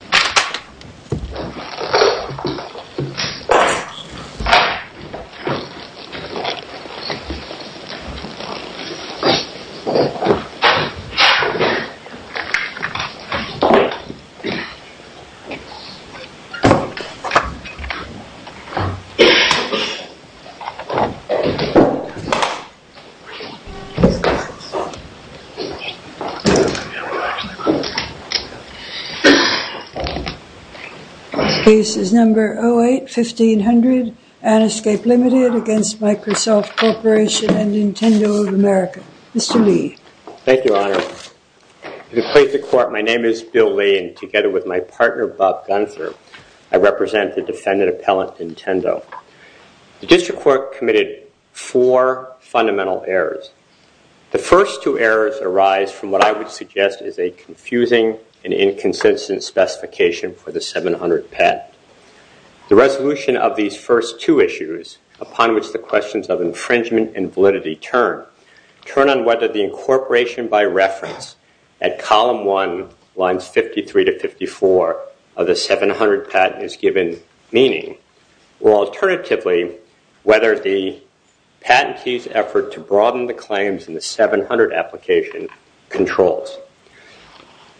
Microsoft Word 97-2003 Document MSWordDoc Word.Document.8 The case is number 08-1500 Anascape Limited against Microsoft Corporation and Nintendo of America. Mr. Lee. Thank you, Your Honor. To the plaintiff's court, my name is Bill Lee and together with my partner, Bob Gunther, I represent the defendant appellant, Nintendo. The district court committed four fundamental errors. The first two errors arise from what I would suggest is a confusing and inconsistent specification for the 700 patent. The resolution of these first two issues, upon which the questions of infringement and validity turn, turn on whether the incorporation by reference at column 1 lines 53-54 of the 700 patent is given meaning, or alternatively, whether the patentee's effort to broaden the claims in the 700 application controls.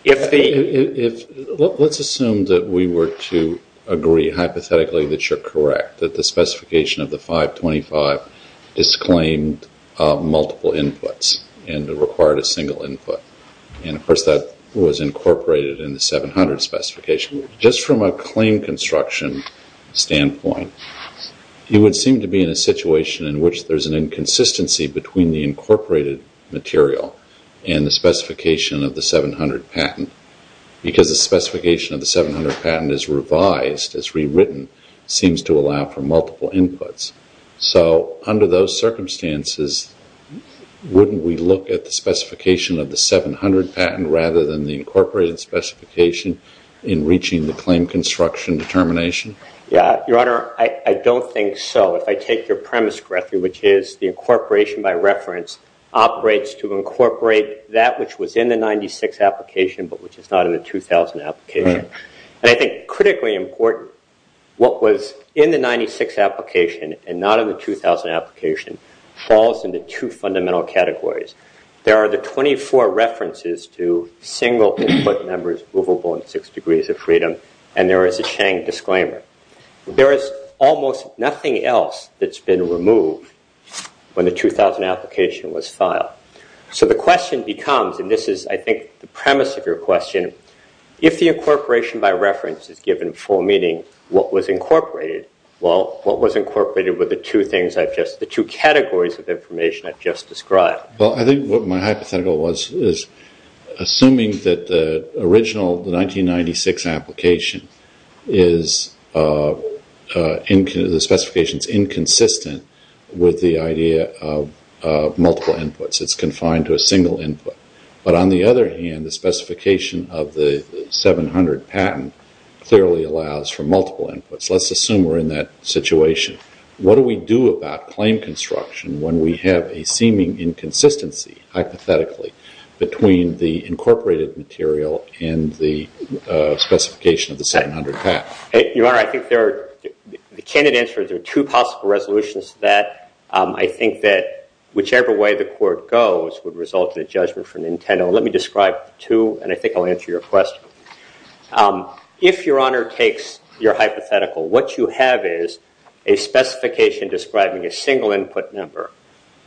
Let's assume that we were to agree hypothetically that you're correct, that the specification of the 525 disclaimed multiple inputs and required a single input. Of course, that was incorporated in the 700 specification. Just from a claim construction standpoint, you would seem to be in a situation in which there's an inconsistency between the incorporated material and the specification of the 700 patent. Because the specification of the 700 patent is revised, is rewritten, seems to allow for multiple inputs. Under those circumstances, wouldn't we look at the specification of the 700 patent rather than the incorporated specification in reaching the claim construction determination? Your Honor, I don't think so. If I take your premise correctly, which is the incorporation by reference operates to incorporate that which was in the 96 application but which is not in the 2000 application. I think critically important, what was in the 96 application and not in the 2000 application falls into two fundamental categories. There are the 24 references to single input numbers movable in six degrees of freedom and there is a Chang disclaimer. There is almost nothing else that's been removed when the 2000 application was filed. So the question becomes, and this is I think the premise of your question, if the incorporation by reference is given full meaning, what was incorporated? Well, what was incorporated were the two categories of information I've just described. Well, I think what my hypothetical was is assuming that the original 1996 application is inconsistent with the idea of multiple inputs. It's confined to a single input. But on the other hand, the specification of the 700 patent clearly allows for multiple inputs. Let's assume we're in that situation. What do we do about claim construction when we have a seeming inconsistency hypothetically between the incorporated material and the specification of the 700 patent? Your Honor, I think there are two possible resolutions to that. I think that whichever way the court goes would result in a judgment for Nintendo. Let me describe two and I think I'll answer your question. If Your Honor takes your hypothetical, what you have is a specification describing a single input number,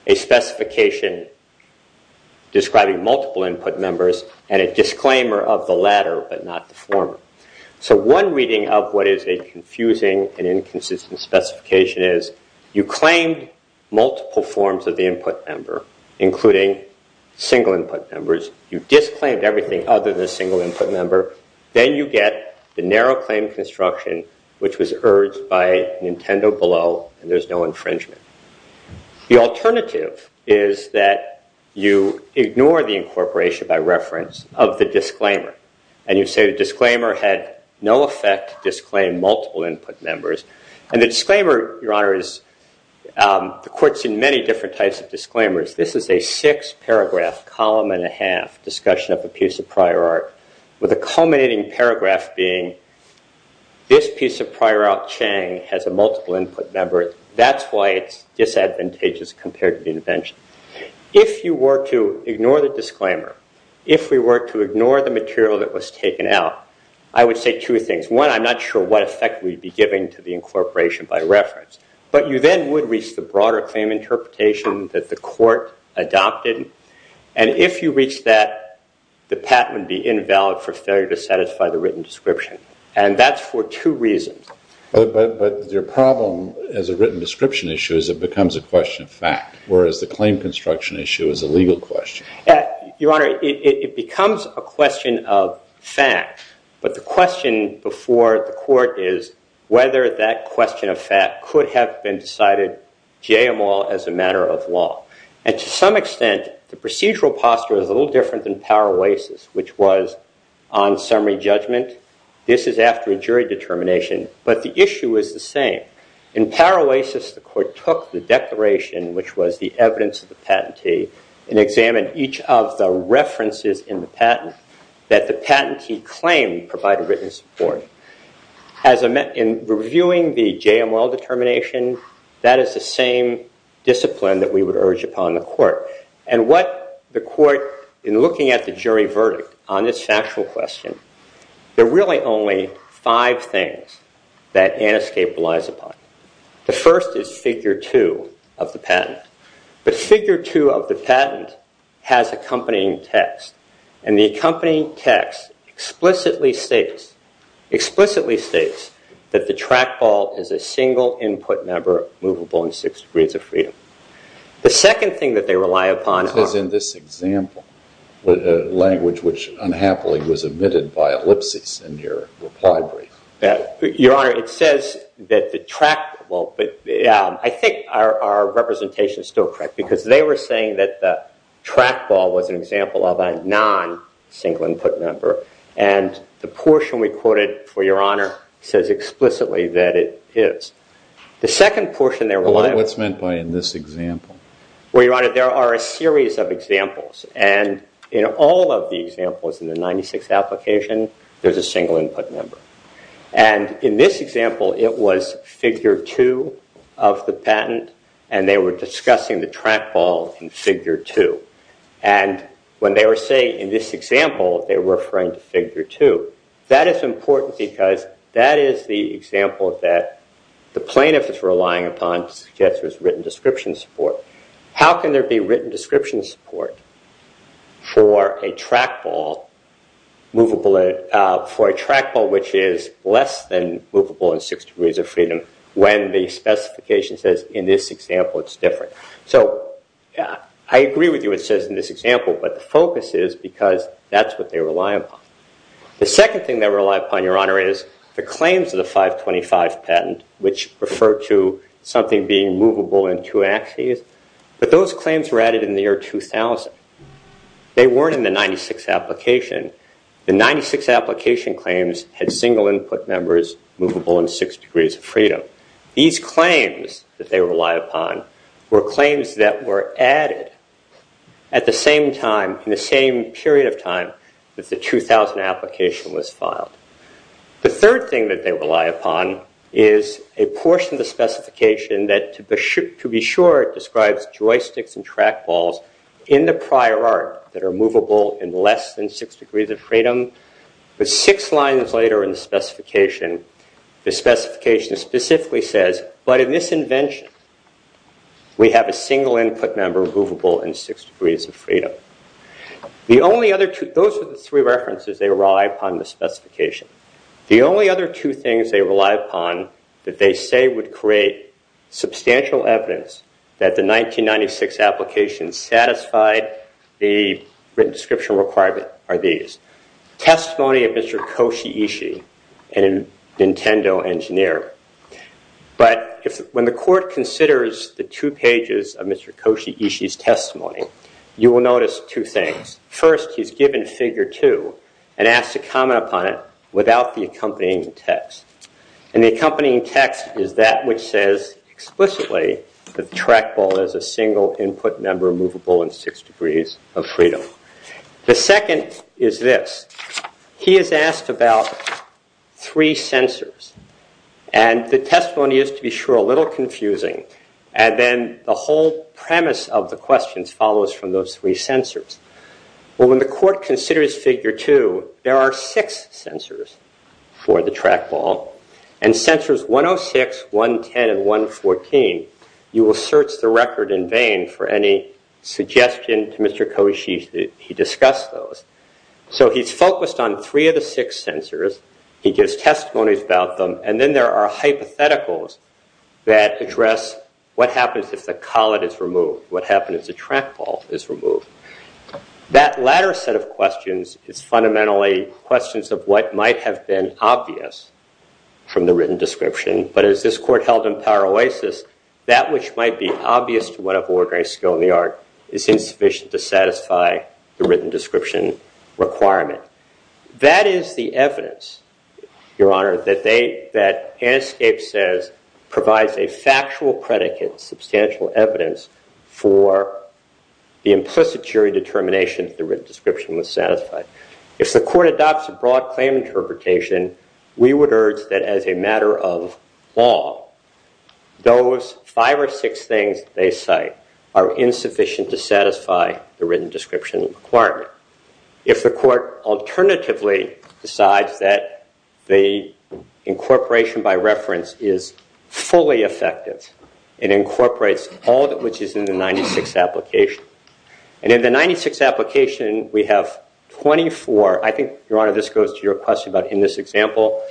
a specification describing multiple input members, and a disclaimer of the latter but not the former. So one reading of what is a confusing and inconsistent specification is you claim multiple forms of the input number, including single input numbers. You've disclaimed everything other than a single input number. Then you get the narrow claim construction, which was urged by Nintendo below, and there's no infringement. The alternative is that you ignore the incorporation by reference of the disclaimer. And you say the disclaimer had no effect to disclaim multiple input numbers. And the disclaimer, Your Honor, the court's in many different types of disclaimers. This is a six paragraph column and a half discussion of a piece of prior art with a culminating paragraph being this piece of prior art, Chang, has a multiple input number. That's why it's disadvantageous compared to the invention. If you were to ignore the disclaimer, if we were to ignore the material that was taken out, I would say two things. One, I'm not sure what effect we'd be giving to the incorporation by reference. But you then would reach the broader claim interpretation that the court adopted. And if you reach that, the patent would be invalid for failure to satisfy the written description. And that's for two reasons. But your problem as a written description issue is it becomes a question of fact, whereas the claim construction issue is a legal question. Your Honor, it becomes a question of fact. But the question before the court is whether that question of fact could have been decided j-am-all as a matter of law. And to some extent, the procedural posture is a little different than power oasis, which was on summary judgment. This is after a jury determination. But the issue is the same. In power oasis, the court took the declaration, which was the evidence of the patentee, and examined each of the references in the patent that the patentee claimed provided written support. In reviewing the j-am-all determination, that is the same discipline that we would urge upon the court. And what the court, in looking at the jury verdict on this factual question, there are really only five things that Anna's case relies upon. The first is figure two of the patent. The figure two of the patent has accompanying text. And the accompanying text explicitly states that the trackball is a single input number movable in six degrees of freedom. The second thing that they rely upon- It says in this example, language which unhappily was omitted by ellipses in your reply brief. Your Honor, it says that the trackball- I think our representation is still correct, because they were saying that the trackball was an example of a non-single input number. And the portion we quoted for Your Honor says explicitly that it is. What's meant by in this example? Well, Your Honor, there are a series of examples. And in all of the examples in the 96th application, there's a single input number. And in this example, it was figure two of the patent, and they were discussing the trackball in figure two. And when they were saying in this example, they were referring to figure two, that is important because that is the example that the plaintiff is relying upon to suggest there's written description support. How can there be written description support for a trackball which is less than movable in six degrees of freedom when the specification says in this example it's different? So I agree with you it says in this example, but the focus is because that's what they rely upon. The second thing they rely upon, Your Honor, is the claims of the 525 patent, which referred to something being movable in two axes. But those claims were added in the year 2000. They weren't in the 96th application. The 96th application claims had single input numbers movable in six degrees of freedom. These claims that they rely upon were claims that were added at the same time, in the same period of time that the 2000 application was filed. The third thing that they rely upon is a portion of the specification that, to be sure, describes joysticks and trackballs in the prior art that are movable in less than six degrees of freedom. But six lines later in the specification, the specification specifically says, but in this invention we have a single input number movable in six degrees of freedom. Those are the three references they rely upon in the specification. The only other two things they rely upon that they say would create substantial evidence that the 1996 application satisfied the written description requirement are these. Testimony of Mr. Koshi Ishii, a Nintendo engineer. But when the court considers the two pages of Mr. Koshi Ishii's testimony, you will notice two things. First, he's given figure two and asked to comment upon it without the accompanying text. And the accompanying text is that which says explicitly that the trackball is a single input number movable in six degrees of freedom. The second is this. He is asked about three sensors. And the testimony is, to be sure, a little confusing. And then the whole premise of the questions follows from those three sensors. Well, when the court considers figure two, there are six sensors for the trackball. And sensors 106, 110, and 114, you will search the record in vain for any suggestion to Mr. Koshi that he discuss those. So he's focused on three of the six sensors. He gives testimonies about them. And then there are hypotheticals that address what happens if the collet is removed, what happens if the trackball is removed. That latter set of questions is fundamentally questions of what might have been obvious from the written description. But as this court held in Paroasis, that which might be obvious to one of ordinary skill in the art is insufficient to satisfy the written description requirement. That is the evidence, Your Honor, that Hanscape says provides a factual predicate, substantial evidence for the implicit jury determination that the written description was satisfied. If the court adopts a broad claim interpretation, we would urge that as a matter of law, those five or six things they cite are insufficient to satisfy the written description requirement. If the court alternatively decides that the incorporation by reference is fully effective, it incorporates all that which is in the 96 application. And in the 96 application, we have 24. I think, Your Honor, this goes to your question about in this example,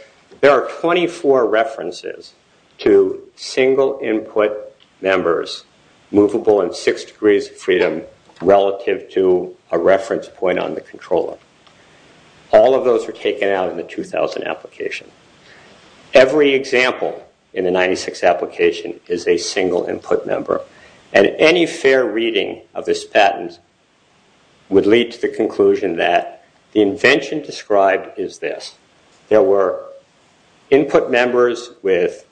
there are 24 references to single input members movable in six degrees of freedom relative to a reference point on the controller. All of those were taken out in the 2000 application. Every example in the 96 application is a single input member. And any fair reading of this patent would lead to the conclusion that the invention described is this. There were input members with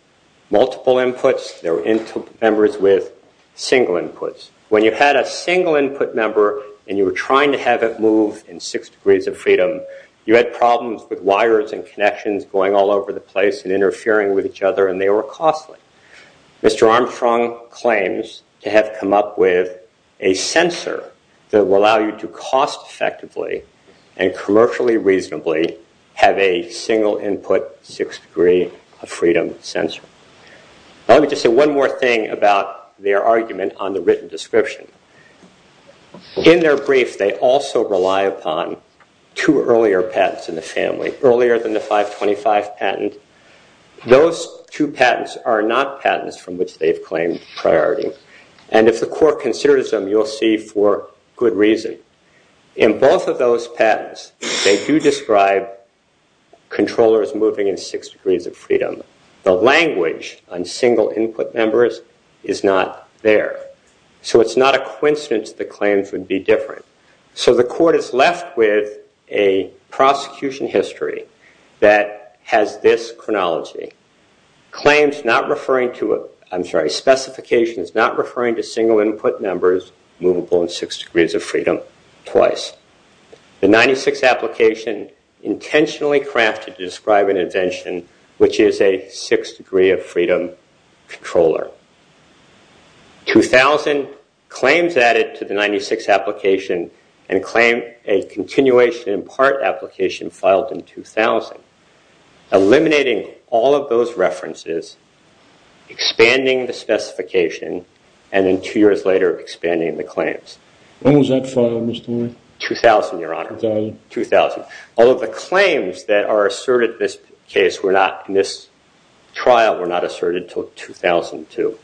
multiple inputs. There were input members with single inputs. When you had a single input member and you were trying to have it move in six degrees of freedom, you had problems with wires and connections going all over the place and interfering with each other, and they were costly. Mr. Armstrong claims to have come up with a sensor that will allow you to cost effectively and commercially reasonably have a single input six degree of freedom sensor. Let me just say one more thing about their argument on the written description. In their brief, they also rely upon two earlier patents in the family. Earlier than the 525 patent, those two patents are not patents from which they've claimed priority. And if the court considers them, you'll see for good reason. In both of those patents, they do describe controllers moving in six degrees of freedom. The language on single input members is not there. So it's not a coincidence the claims would be different. So the court is left with a prosecution history that has this chronology. Specifications not referring to single input members movable in six degrees of freedom twice. The 96 application intentionally crafted to describe an invention which is a six degree of freedom controller. 2000 claims added to the 96 application and claim a continuation in part application filed in 2000. Eliminating all of those references, expanding the specification, and then two years later expanding the claims. When was that filed, Mr. White? 2000, your honor. 2000. Although the claims that are asserted in this trial were not asserted until 2002.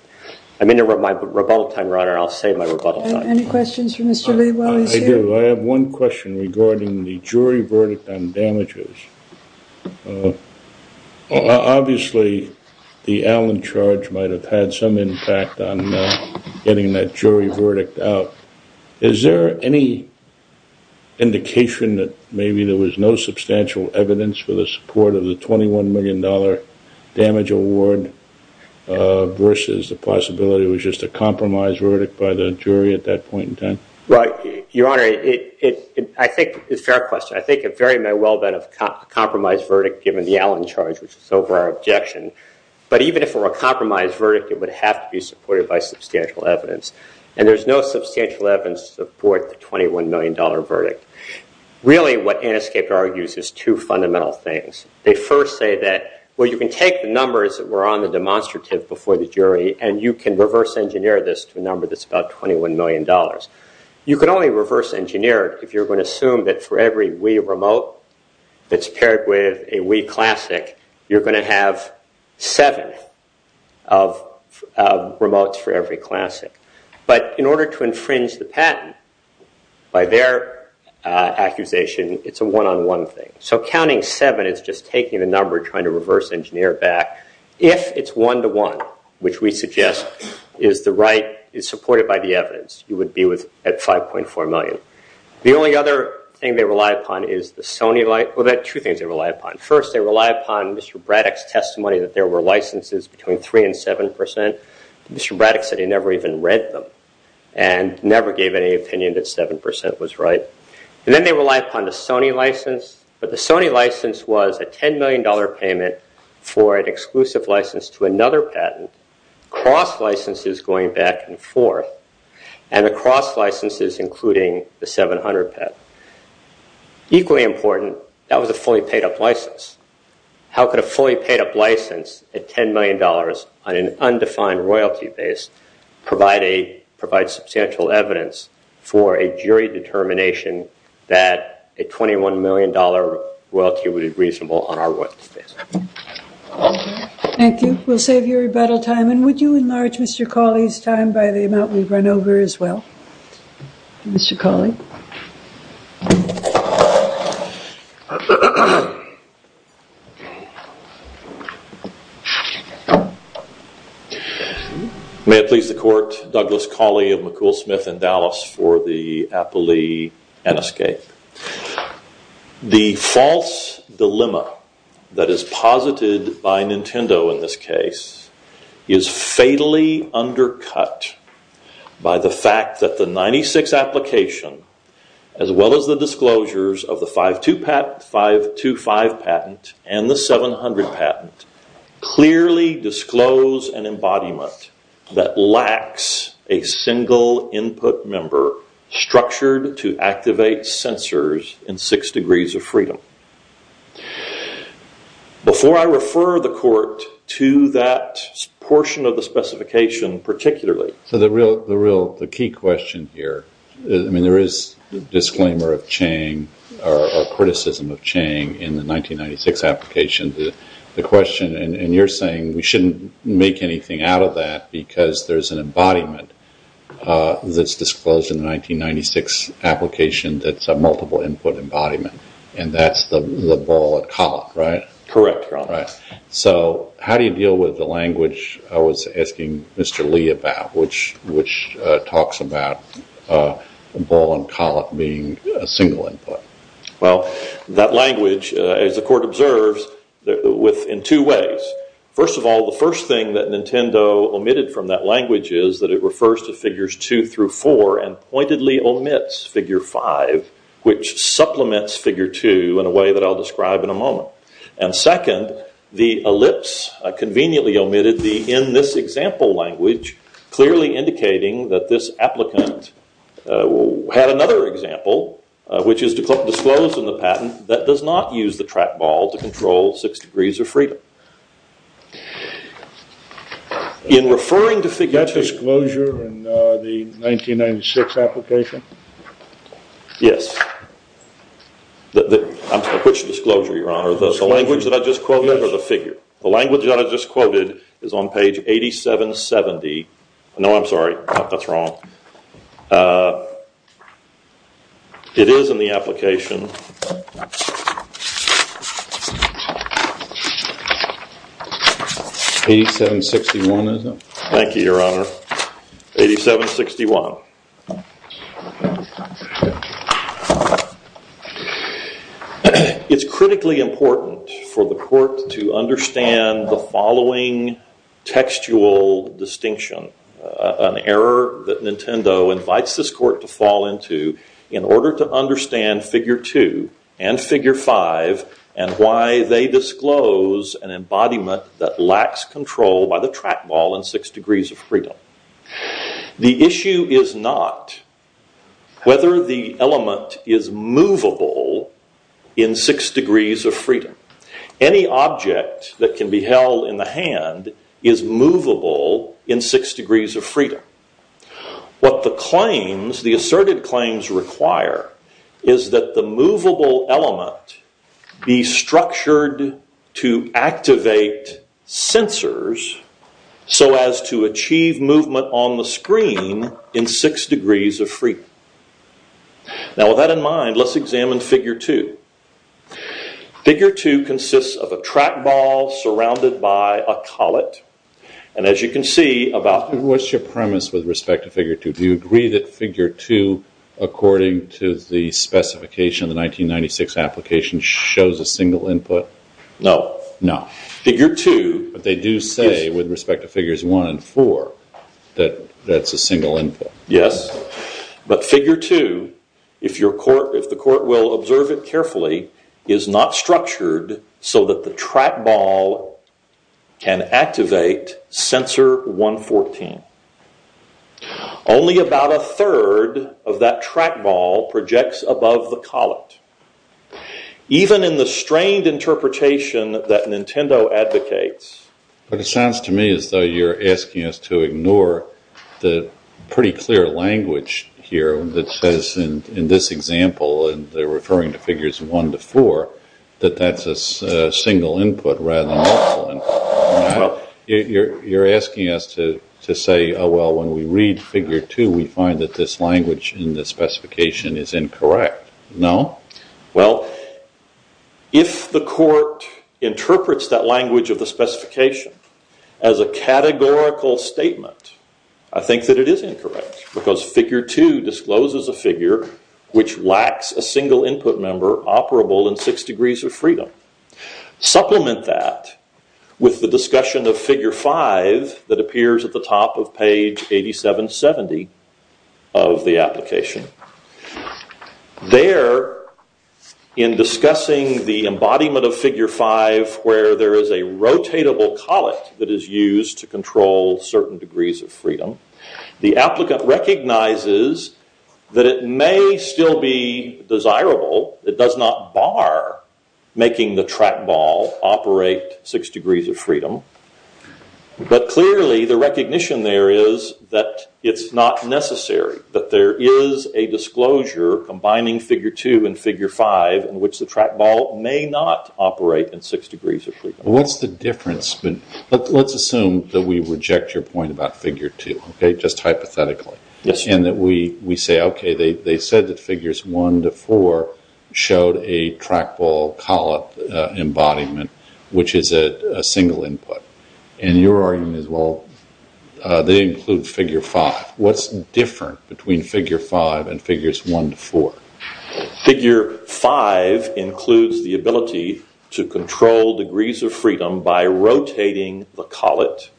I'm in the middle of my rebuttal time, your honor, and I'll say my rebuttal time. Any questions for Mr. Lee while he's here? I do. I have one question regarding the jury verdict on damages. Obviously, the Allen charge might have had some impact on getting that jury verdict out. Is there any indication that maybe there was no substantial evidence for the support of the $21 million damage award versus the possibility it was just a compromise verdict by the jury at that point in time? Right, your honor. I think it's a fair question. I think it very may well have been a compromise verdict given the Allen charge, which is over our objection. But even if it were a compromise verdict, it would have to be supported by substantial evidence. And there's no substantial evidence to support the $21 million verdict. Really, what Aniscape argues is two fundamental things. They first say that, well, you can take the numbers that were on the demonstrative before the jury, and you can reverse engineer this to a number that's about $21 million. You can only reverse engineer it if you're going to assume that for every Wii remote that's paired with a Wii Classic, you're going to have seven of remotes for every Classic. But in order to infringe the patent, by their accusation, it's a one-on-one thing. So counting seven is just taking the number and trying to reverse engineer it back. If it's one-to-one, which we suggest is supported by the evidence, you would be at $5.4 million. The only other thing they rely upon is the Sony license. Well, there are two things they rely upon. First, they rely upon Mr. Braddock's testimony that there were licenses between 3% and 7%. Mr. Braddock said he never even read them and never gave any opinion that 7% was right. And then they rely upon the Sony license. But the Sony license was a $10 million payment for an exclusive license to another patent, cross licenses going back and forth, and the cross licenses including the 700 patent. Equally important, that was a fully paid-up license. How could a fully paid-up license at $10 million on an undefined royalty base provide substantial evidence for a jury determination that a $21 million royalty would be reasonable on our royalty base? Thank you. We'll save your rebuttal time. And would you enlarge Mr. Cauley's time by the amount we've run over as well? Mr. Cauley? May it please the court, Douglas Cauley of McCool Smith in Dallas for the appellee and escape. The false dilemma that is posited by Nintendo in this case is fatally undercut by the fact that the 96 application as well as the disclosures of the 525 patent and the 700 patent clearly disclose an embodiment that lacks a single input member structured to activate sensors in six degrees of freedom. Before I refer the court to that portion of the specification particularly. The key question here, I mean there is a disclaimer of Chang or criticism of Chang in the 1996 application. The question and you're saying we shouldn't make anything out of that because there's an embodiment that's disclosed in the 1996 application that's a multiple input embodiment. And that's the ball and column, right? Correct, Your Honor. So how do you deal with the language I was asking Mr. Lee about which talks about ball and column being a single input? Well, that language as the court observes in two ways. First of all, the first thing that Nintendo omitted from that language is that it refers to figures 2 through 4 and pointedly omits figure 5 which supplements figure 2 in a way that I'll describe in a moment. And second, the ellipse conveniently omitted the in this example language clearly indicating that this applicant had another example which is disclosed in the patent that does not use the track ball to control six degrees of freedom. In referring to figure 2. That disclosure in the 1996 application? Yes. Which disclosure, Your Honor? The language that I just quoted or the figure? The language that I just quoted is on page 8770. No, I'm sorry. That's wrong. It is in the application. 8761 is it? Thank you, Your Honor. 8761. It's critically important for the court to understand the following textual distinction. An error that Nintendo invites this court to fall into in order to understand figure 2 and figure 5 and why they disclose an embodiment that lacks control by the track ball in six degrees of freedom. The issue is not whether the element is movable in six degrees of freedom. Any object that can be held in the hand is movable in six degrees of freedom. What the asserted claims require is that the movable element be structured to activate sensors so as to achieve movement on the screen in six degrees of freedom. With that in mind, let's examine figure 2. Figure 2 consists of a track ball surrounded by a collet. What's your premise with respect to figure 2? Do you agree that figure 2, according to the specification of the 1996 application, shows a single input? No. No. But they do say with respect to figures 1 and 4 that that's a single input. Yes. But figure 2, if the court will observe it carefully, is not structured so that the track ball can activate sensor 114. Only about a third of that track ball projects above the collet. Even in the strained interpretation that Nintendo advocates... But it sounds to me as though you're asking us to ignore the pretty clear language here that says in this example, and they're referring to figures 1 to 4, that that's a single input rather than multiple inputs. You're asking us to say, oh, well, when we read figure 2, we find that this language in the specification is incorrect. No. Well, if the court interprets that language of the specification as a categorical statement, I think that it is incorrect because figure 2 discloses a figure which lacks a single input member operable in six degrees of freedom. Supplement that with the discussion of figure 5 that appears at the top of page 8770 of the application. There, in discussing the embodiment of figure 5 where there is a rotatable collet that is used to control certain degrees of freedom, the applicant recognizes that it may still be desirable. It does not bar making the track ball operate six degrees of freedom. But clearly, the recognition there is that it's not necessary, that there is a disclosure combining figure 2 and figure 5 in which the track ball may not operate in six degrees of freedom. What's the difference? Let's assume that we reject your point about figure 2, just hypothetically, and that we say, okay, they said that figures 1 to 4 showed a track ball collet embodiment which is a single input. And your argument is, well, they include figure 5. What's different between figure 5 and figures 1 to 4? Figure 5 includes the ability to control degrees of freedom by rotating the collet.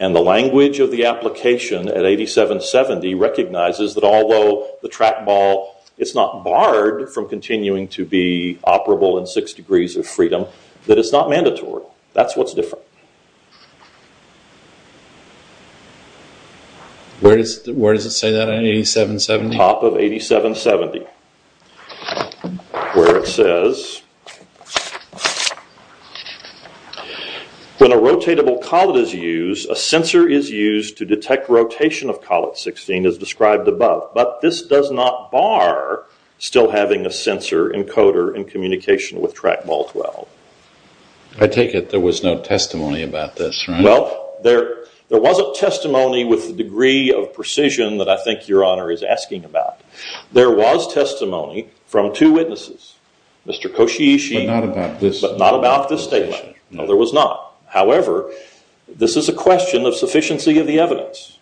And the language of the application at 8770 recognizes that although the track ball, it's not barred from continuing to be operable in six degrees of freedom, that it's not mandatory. That's what's different. Where does it say that at 8770? Top of 8770, where it says, when a rotatable collet is used, a sensor is used to detect rotation of collet 16 as described above. But this does not bar still having a sensor encoder in communication with track ball 12. I take it there was no testimony about this, right? Well, there wasn't testimony with the degree of precision that I think your honor is asking about. There was testimony from two witnesses, Mr. Koshiyishi, but not about this statement. No, there was not. However, this is a question of sufficiency of the evidence.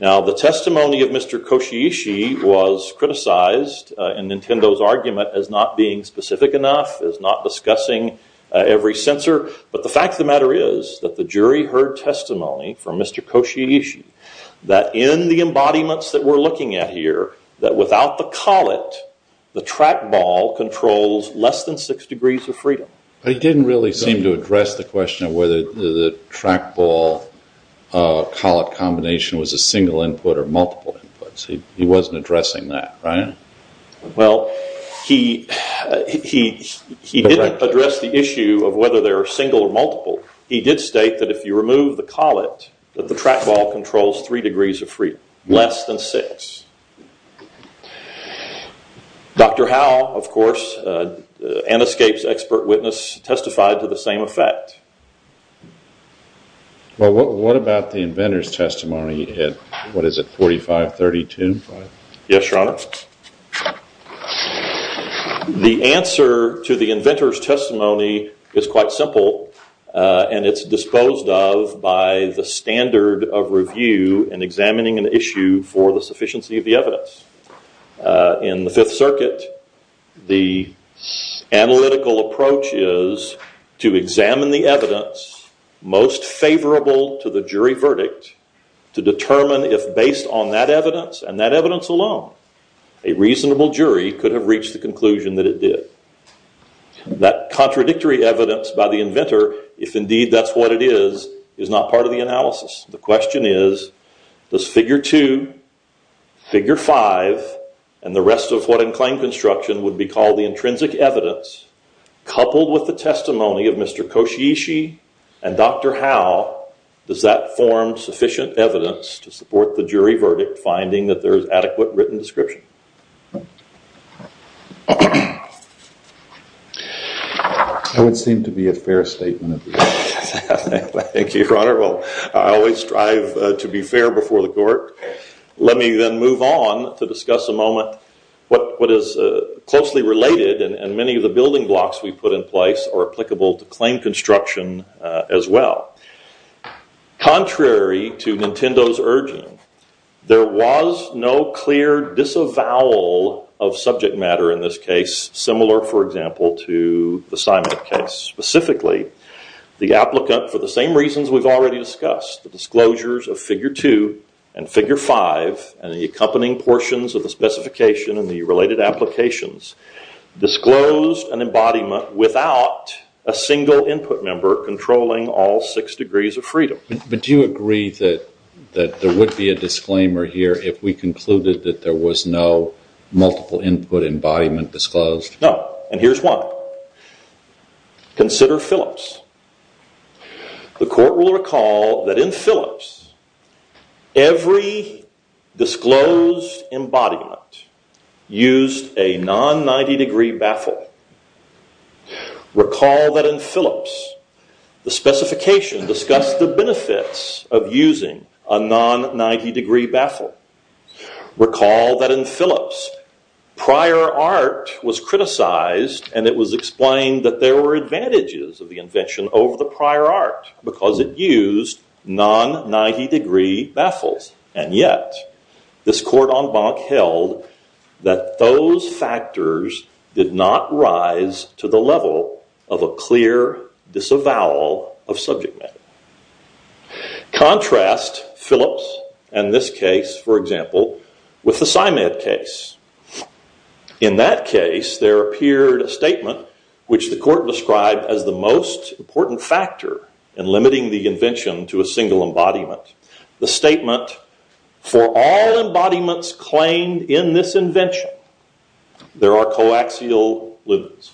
Now, the testimony of Mr. Koshiyishi was criticized in Nintendo's argument as not being specific enough, as not discussing every sensor, but the fact of the matter is that the jury heard testimony from Mr. Koshiyishi that in the embodiments that we're looking at here, that without the collet, the track ball controls less than six degrees of freedom. But he didn't really seem to address the question of whether the track ball collet combination was a single input or multiple inputs. He wasn't addressing that, right? Well, he didn't address the issue of whether they were single or multiple. He did state that if you remove the collet, that the track ball controls three degrees of freedom, less than six. Dr. Howell, of course, and ESCAPE's expert witness testified to the same effect. Well, what about the inventor's testimony? What is it, 4532? Yes, Your Honor. The answer to the inventor's testimony is quite simple, and it's disposed of by the standard of review and examining an issue for the sufficiency of the evidence. In the Fifth Circuit, the analytical approach is to examine the evidence most favorable to the jury verdict to determine if, based on that evidence and that evidence alone, a reasonable jury could have reached the conclusion that it did. That contradictory evidence by the inventor, if indeed that's what it is, is not part of the analysis. The question is, does figure two, figure five, and the rest of what in claim construction would be called the intrinsic evidence, coupled with the testimony of Mr. Koshiyishi and Dr. Howell, does that form sufficient evidence to support the jury verdict finding that there is adequate written description? That would seem to be a fair statement. Thank you, Your Honor. Well, I always strive to be fair before the court. Let me then move on to discuss a moment, what is closely related, and many of the building blocks we put in place are applicable to claim construction as well. Contrary to Nintendo's urging, there was no clear disavowal of subject matter in this case, similar, for example, to the Simon case. Specifically, the applicant, for the same reasons we've already discussed, the disclosures of figure two and figure five and the accompanying portions of the specification and the related applications, disclosed an embodiment without a single input member controlling all six degrees of freedom. But do you agree that there would be a disclaimer here if we concluded that there was no multiple input embodiment disclosed? No, and here's why. Consider Phillips. The court will recall that in Phillips, every disclosed embodiment used a non-90 degree baffle. Recall that in Phillips, the specification discussed the benefits of using a non-90 degree baffle. Recall that in Phillips, prior art was criticized, and it was explained that there were advantages of the invention over the prior art because it used non-90 degree baffles. And yet, this court en banc held that those factors did not rise to the level of a clear disavowal of subject matter. Contrast Phillips and this case, for example, with the Simon case. In that case, there appeared a statement which the court described as the most important factor in limiting the invention to a single embodiment. The statement, for all embodiments claimed in this invention, there are coaxial lumens.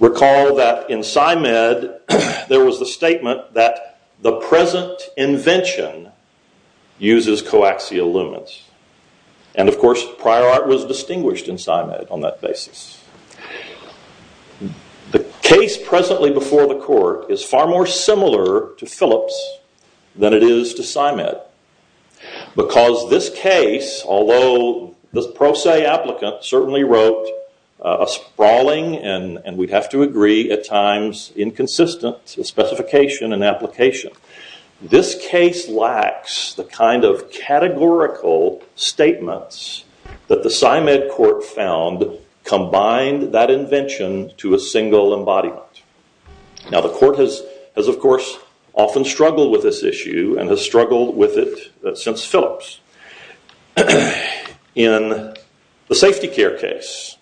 Recall that in Simon, there was a statement that the present invention uses coaxial lumens. And of course, prior art was distinguished in Simon on that basis. The case presently before the court is far more similar to Phillips than it is to Simon. Because this case, although the pro se applicant certainly wrote a sprawling and we have to agree at times inconsistent specification and application. This case lacks the kind of categorical statements that the Simon court found combined that invention to a single embodiment. Now, the court has, of course, often struggled with this issue and has struggled with it since Phillips. In the safety care case,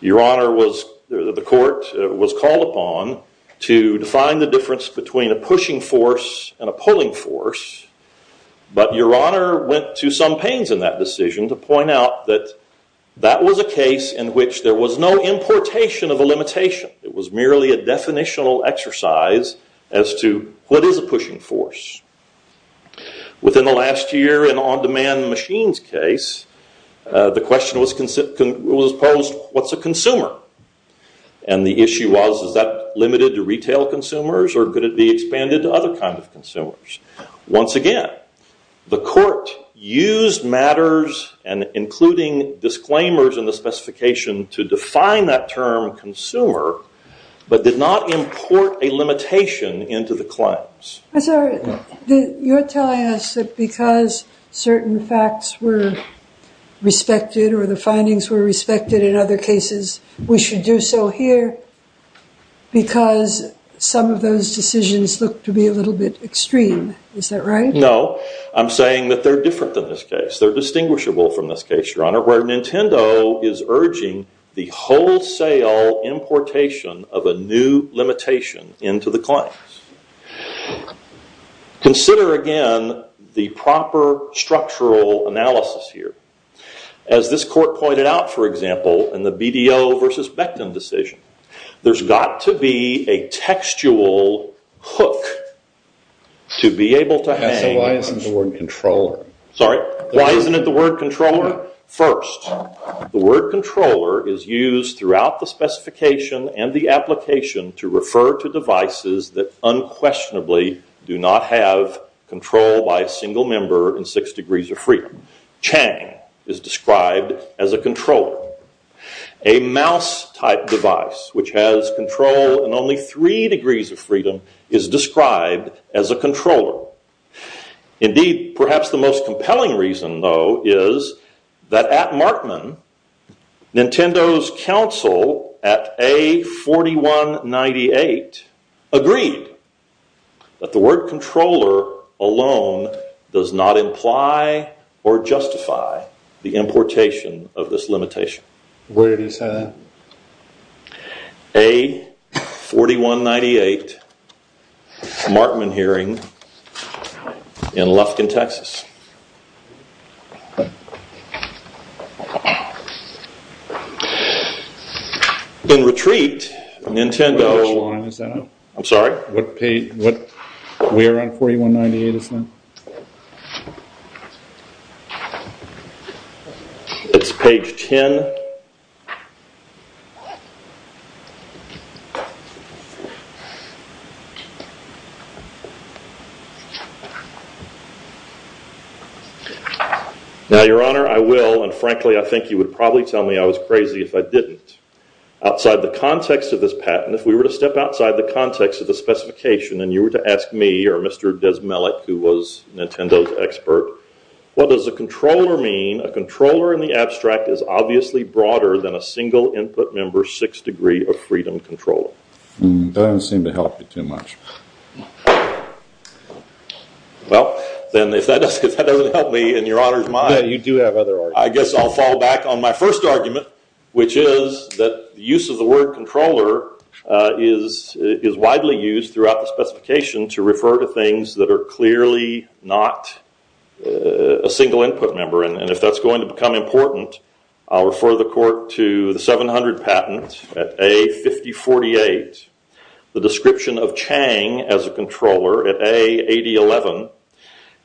the court was called upon to define the difference between a pushing force and a pulling force. But your honor went to some pains in that decision to point out that that was a case in which there was no importation of a limitation. It was merely a definitional exercise as to what is a pushing force. Within the last year in on-demand machines case, the question was posed, what's a consumer? And the issue was, is that limited to retail consumers or could it be expanded to other kinds of consumers? Once again, the court used matters and including disclaimers in the specification to define that term consumer, but did not import a limitation into the claims. You're telling us that because certain facts were respected or the findings were respected in other cases, we should do so here because some of those decisions look to be a little bit extreme. Is that right? No, I'm saying that they're different than this case. They're distinguishable from this case, your honor, where Nintendo is urging the wholesale importation of a new limitation into the claims. Consider again the proper structural analysis here. As this court pointed out, for example, in the BDO versus Becton decision, there's got to be a textual hook to be able to hang... Why isn't the word controller? Sorry? Why isn't it the word controller? First, the word controller is used throughout the specification and the application to refer to devices that unquestionably do not have control by a single member in six degrees of freedom. Chang is described as a controller. A mouse type device, which has control in only three degrees of freedom, is described as a controller. Indeed, perhaps the most compelling reason, though, is that at Markman, Nintendo's counsel at A4198 agreed that the word controller alone does not imply or justify the importation of this limitation. Where did he say that? A4198, Markman hearing in Lufkin, Texas. In retreat, Nintendo... I'm sorry? We're on 4198, isn't it? It's page 10. Now, Your Honor, I will, and frankly, I think you would probably tell me I was crazy if I didn't. Outside the context of this patent, if we were to step outside the context of the specification, and you were to ask me or Mr. Desmelek, who was Nintendo's expert, what does a controller mean? A controller in the abstract is obviously broader than a single input member six degree of freedom controller. That doesn't seem to help you too much. Well, then, if that doesn't help me and Your Honor's mine... You do have other arguments. I guess I'll fall back on my first argument, which is that use of the word controller is widely used throughout the specification to refer to things that are clearly not a single input member. And if that's going to become important, I'll refer the court to the 700 patent at A5048, the description of Chang as a controller at A8011,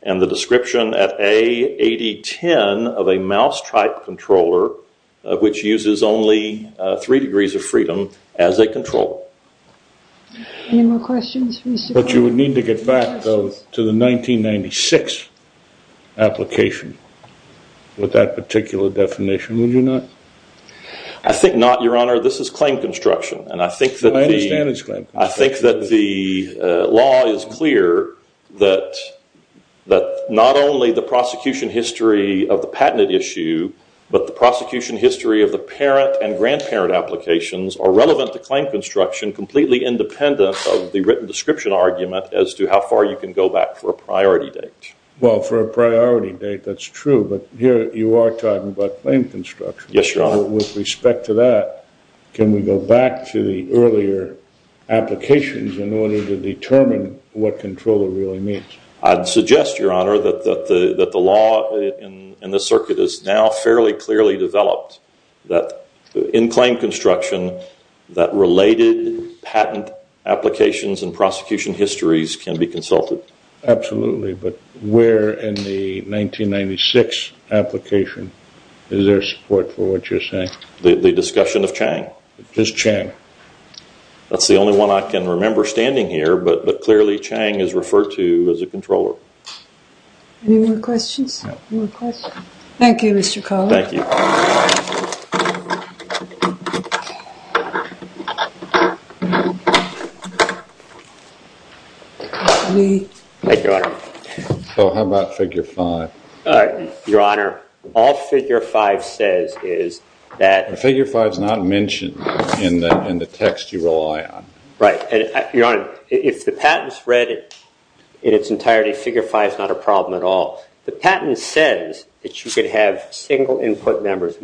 and the description at A8010 of a mouse-type controller, which uses only three degrees of freedom as a controller. Any more questions? But you would need to get back to the 1996 application with that particular definition, would you not? I think not, Your Honor. Your Honor, this is claim construction, and I think that the law is clear that not only the prosecution history of the patented issue, but the prosecution history of the parent and grandparent applications are relevant to claim construction, completely independent of the written description argument as to how far you can go back for a priority date. Well, for a priority date, that's true, but here you are talking about claim construction. Yes, Your Honor. With respect to that, can we go back to the earlier applications in order to determine what controller really means? I'd suggest, Your Honor, that the law in the circuit is now fairly clearly developed that in claim construction, that related patent applications and prosecution histories can be consulted. Absolutely, but where in the 1996 application is there support for what you're saying? The discussion of Chang. Just Chang? That's the only one I can remember standing here, but clearly Chang is referred to as a controller. Any more questions? No. Thank you, Mr. Collier. Thank you. Thank you, Your Honor. So how about figure 5? Your Honor, all figure 5 says is that- Figure 5 is not mentioned in the text you rely on. Right. Your Honor, if the patent is read in its entirety, figure 5 is not a problem at all. The patent says that you could have single input methods,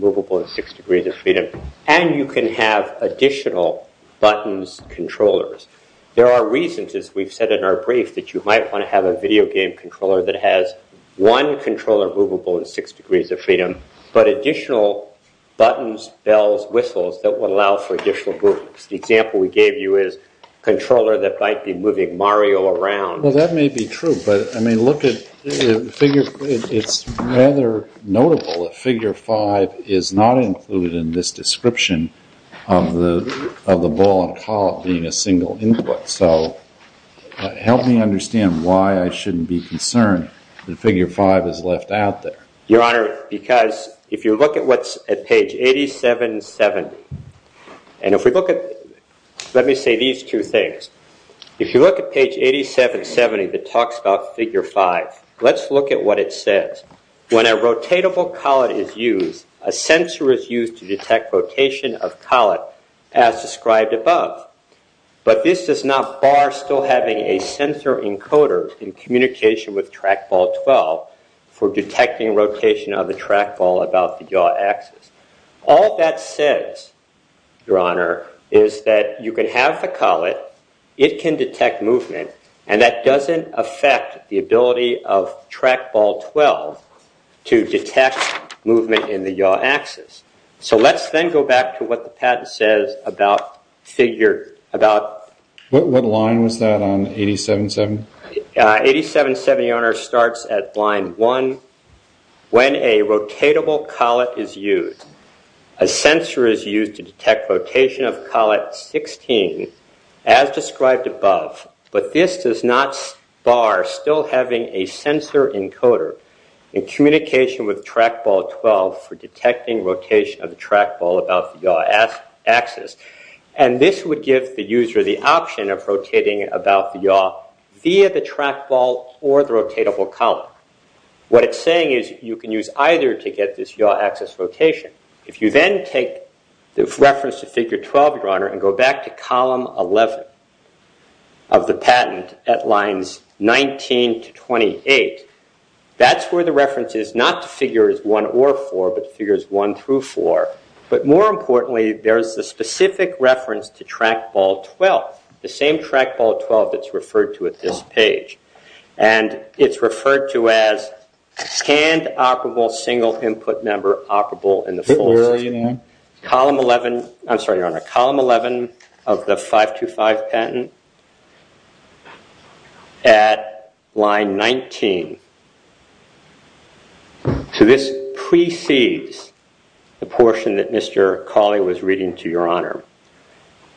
and you can have additional buttons, controllers. There are reasons, as we've said in our brief, that you might want to have a video game controller that has one controller movable in six degrees of freedom, but additional buttons, bells, whistles that would allow for additional movements. The example we gave you is a controller that might be moving Mario around. Well, that may be true, but it's rather notable that figure 5 is not included in this description of the ball and collar being a single input. So help me understand why I shouldn't be concerned that figure 5 is left out there. Your Honor, because if you look at what's at page 8770, and if we look at- let me say these two things. If you look at page 8770 that talks about figure 5, let's look at what it says. When a rotatable collet is used, a sensor is used to detect rotation of collet as described above. But this does not bar still having a sensor encoder in communication with trackball 12 for detecting rotation of the trackball about the yaw axis. All that says, Your Honor, is that you can have the collet, it can detect movement, and that doesn't affect the ability of trackball 12 to detect movement in the yaw axis. So let's then go back to what the patent says about figure- What line was that on 8770? 8770, Your Honor, starts at line 1. When a rotatable collet is used, a sensor is used to detect rotation of collet 16 as described above. But this does not bar still having a sensor encoder in communication with trackball 12 for detecting rotation of the trackball about the yaw axis. And this would give the user the option of rotating about the yaw via the trackball or the rotatable collet. What it's saying is you can use either to get this yaw axis rotation. If you then take the reference to figure 12, Your Honor, and go back to column 11 of the patent at lines 19 to 28, that's where the reference is not to figures 1 or 4, but figures 1 through 4. But more importantly, there's the specific reference to trackball 12, the same trackball 12 that's referred to at this page. And it's referred to as scanned operable single input number operable in the full system. I'm sorry, Your Honor, column 11 of the 525 patent at line 19. So this precedes the portion that Mr. Cawley was reading to Your Honor.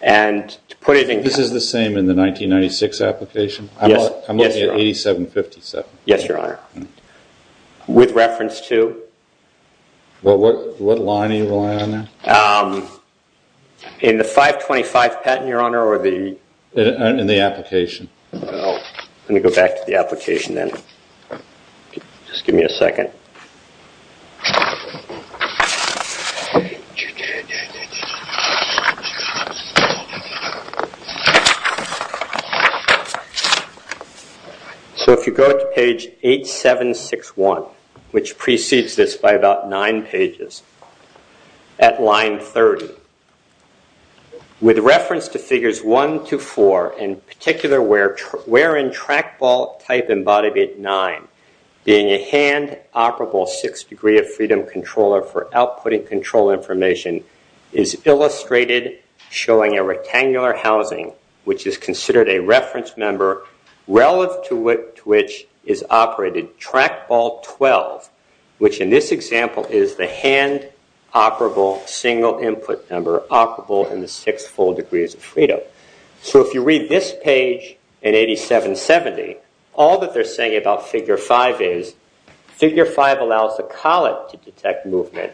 And to put it in... This is the same in the 1996 application? Yes, Your Honor. I'm looking at 8757. Yes, Your Honor. With reference to? What line are you relying on there? In the 525 patent, Your Honor, or the... In the application. Let me go back to the application then. Just give me a second. So if you go to page 8761, which precedes this by about nine pages, at line 30, with reference to figures 1 to 4, in particular wherein trackball type embodied at 9, being a hand operable 6 degree of freedom controller for outputting control information, is illustrated showing a rectangular housing, which is considered a reference member relative to which is operated trackball 12, which in this example is the hand operable single input number operable in the 6 full degrees of freedom. So if you read this page in 8770, all that they're saying about figure 5 is figure 5 allows the collet to detect movement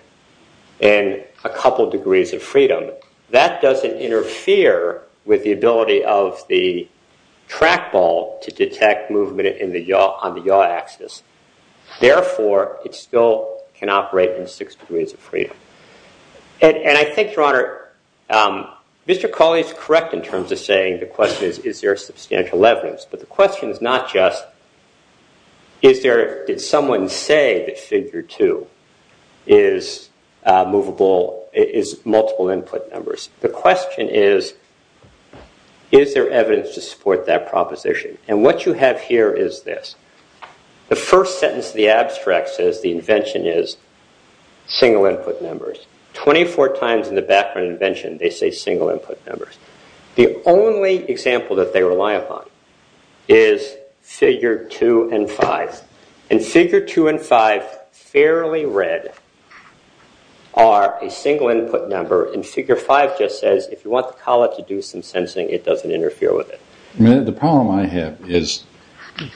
in a couple degrees of freedom. That doesn't interfere with the ability of the trackball to detect movement on the yaw axis. Therefore, it still can operate in 6 degrees of freedom. And I think, Your Honor, Mr. Colley is correct in terms of saying the question is, is there substantial evidence? But the question is not just did someone say that figure 2 is multiple input numbers? The question is, is there evidence to support that proposition? And what you have here is this. The first sentence of the abstract says the invention is single input numbers. 24 times in the background of invention, they say single input numbers. The only example that they rely upon is figure 2 and 5. And figure 2 and 5, fairly read, are a single input number. And figure 5 just says if you want the collet to do some sensing, it doesn't interfere with it. The problem I have is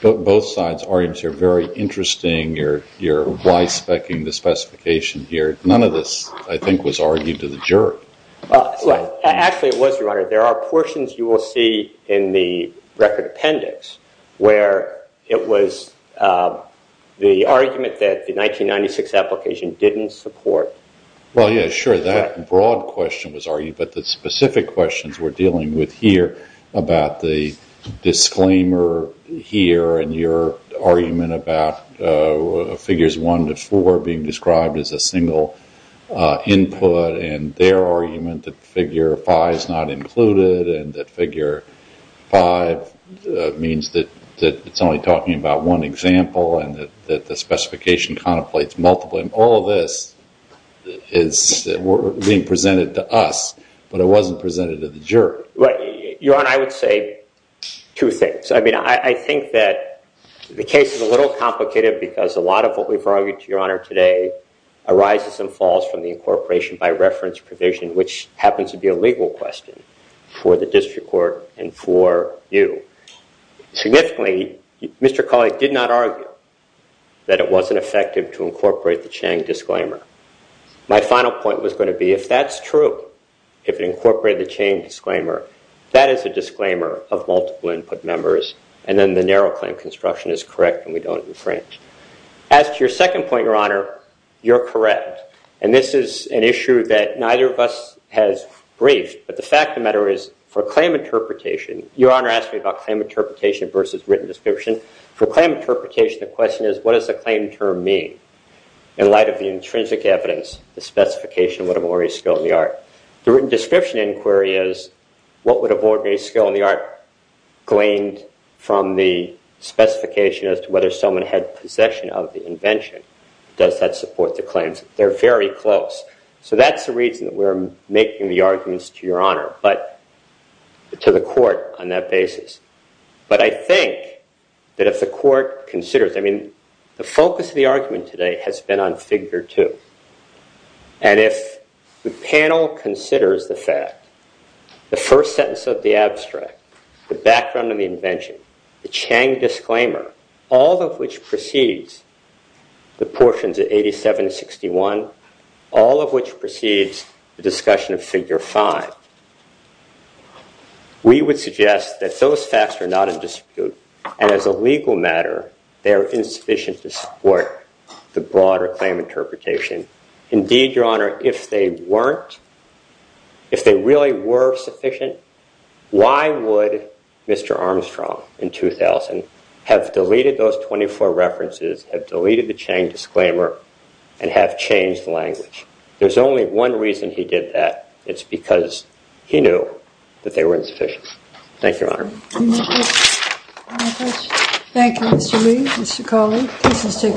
both sides' arguments are very interesting. You're wise-spec-ing the specification here. None of this, I think, was argued to the jury. Actually, it was, Your Honor. There are portions you will see in the record appendix where it was the argument that the 1996 application didn't support. Well, yeah, sure, that broad question was argued. But the specific questions we're dealing with here about the disclaimer here and your argument about figures 1 to 4 being described as a single input and their argument that figure 5 is not included and that figure 5 means that it's only talking about one example and that the specification contemplates multiple. And all of this is being presented to us, but it wasn't presented to the jury. Your Honor, I would say two things. I mean, I think that the case is a little complicated because a lot of what we've argued to Your Honor today arises and falls from the incorporation by reference provision, which happens to be a legal question for the district court and for you. Significantly, Mr. Collick did not argue that it wasn't effective to incorporate the Chang disclaimer. My final point was going to be if that's true, if it incorporated the Chang disclaimer, that is a disclaimer of multiple input members and then the narrow claim construction is correct and we don't infringe. As to your second point, Your Honor, you're correct. And this is an issue that neither of us has briefed, but the fact of the matter is for claim interpretation, Your Honor asked me about claim interpretation versus written description. For claim interpretation, the question is what does the claim term mean? In light of the intrinsic evidence, the specification would have ordained skill in the art. The written description inquiry is what would have ordained skill in the art gleaned from the specification as to whether someone had possession of the invention. Does that support the claims? They're very close. So that's the reason that we're making the arguments to Your Honor, but to the court on that basis. But I think that if the court considers, I mean, the focus of the argument today has been on figure two. And if the panel considers the fact, the first sentence of the abstract, the background of the invention, the Chang disclaimer, all of which precedes the portions of 87 to 61, all of which precedes the discussion of figure five. We would suggest that those facts are not in dispute. And as a legal matter, they are insufficient to support the broader claim interpretation. Indeed, Your Honor, if they weren't, if they really were sufficient, why would Mr. Armstrong in 2000 have deleted those 24 references, have deleted the Chang disclaimer, and have changed language? There's only one reason he did that. It's because he knew that they were insufficient. Thank you, Your Honor. Thank you, Mr. Lee, Mr. Colley.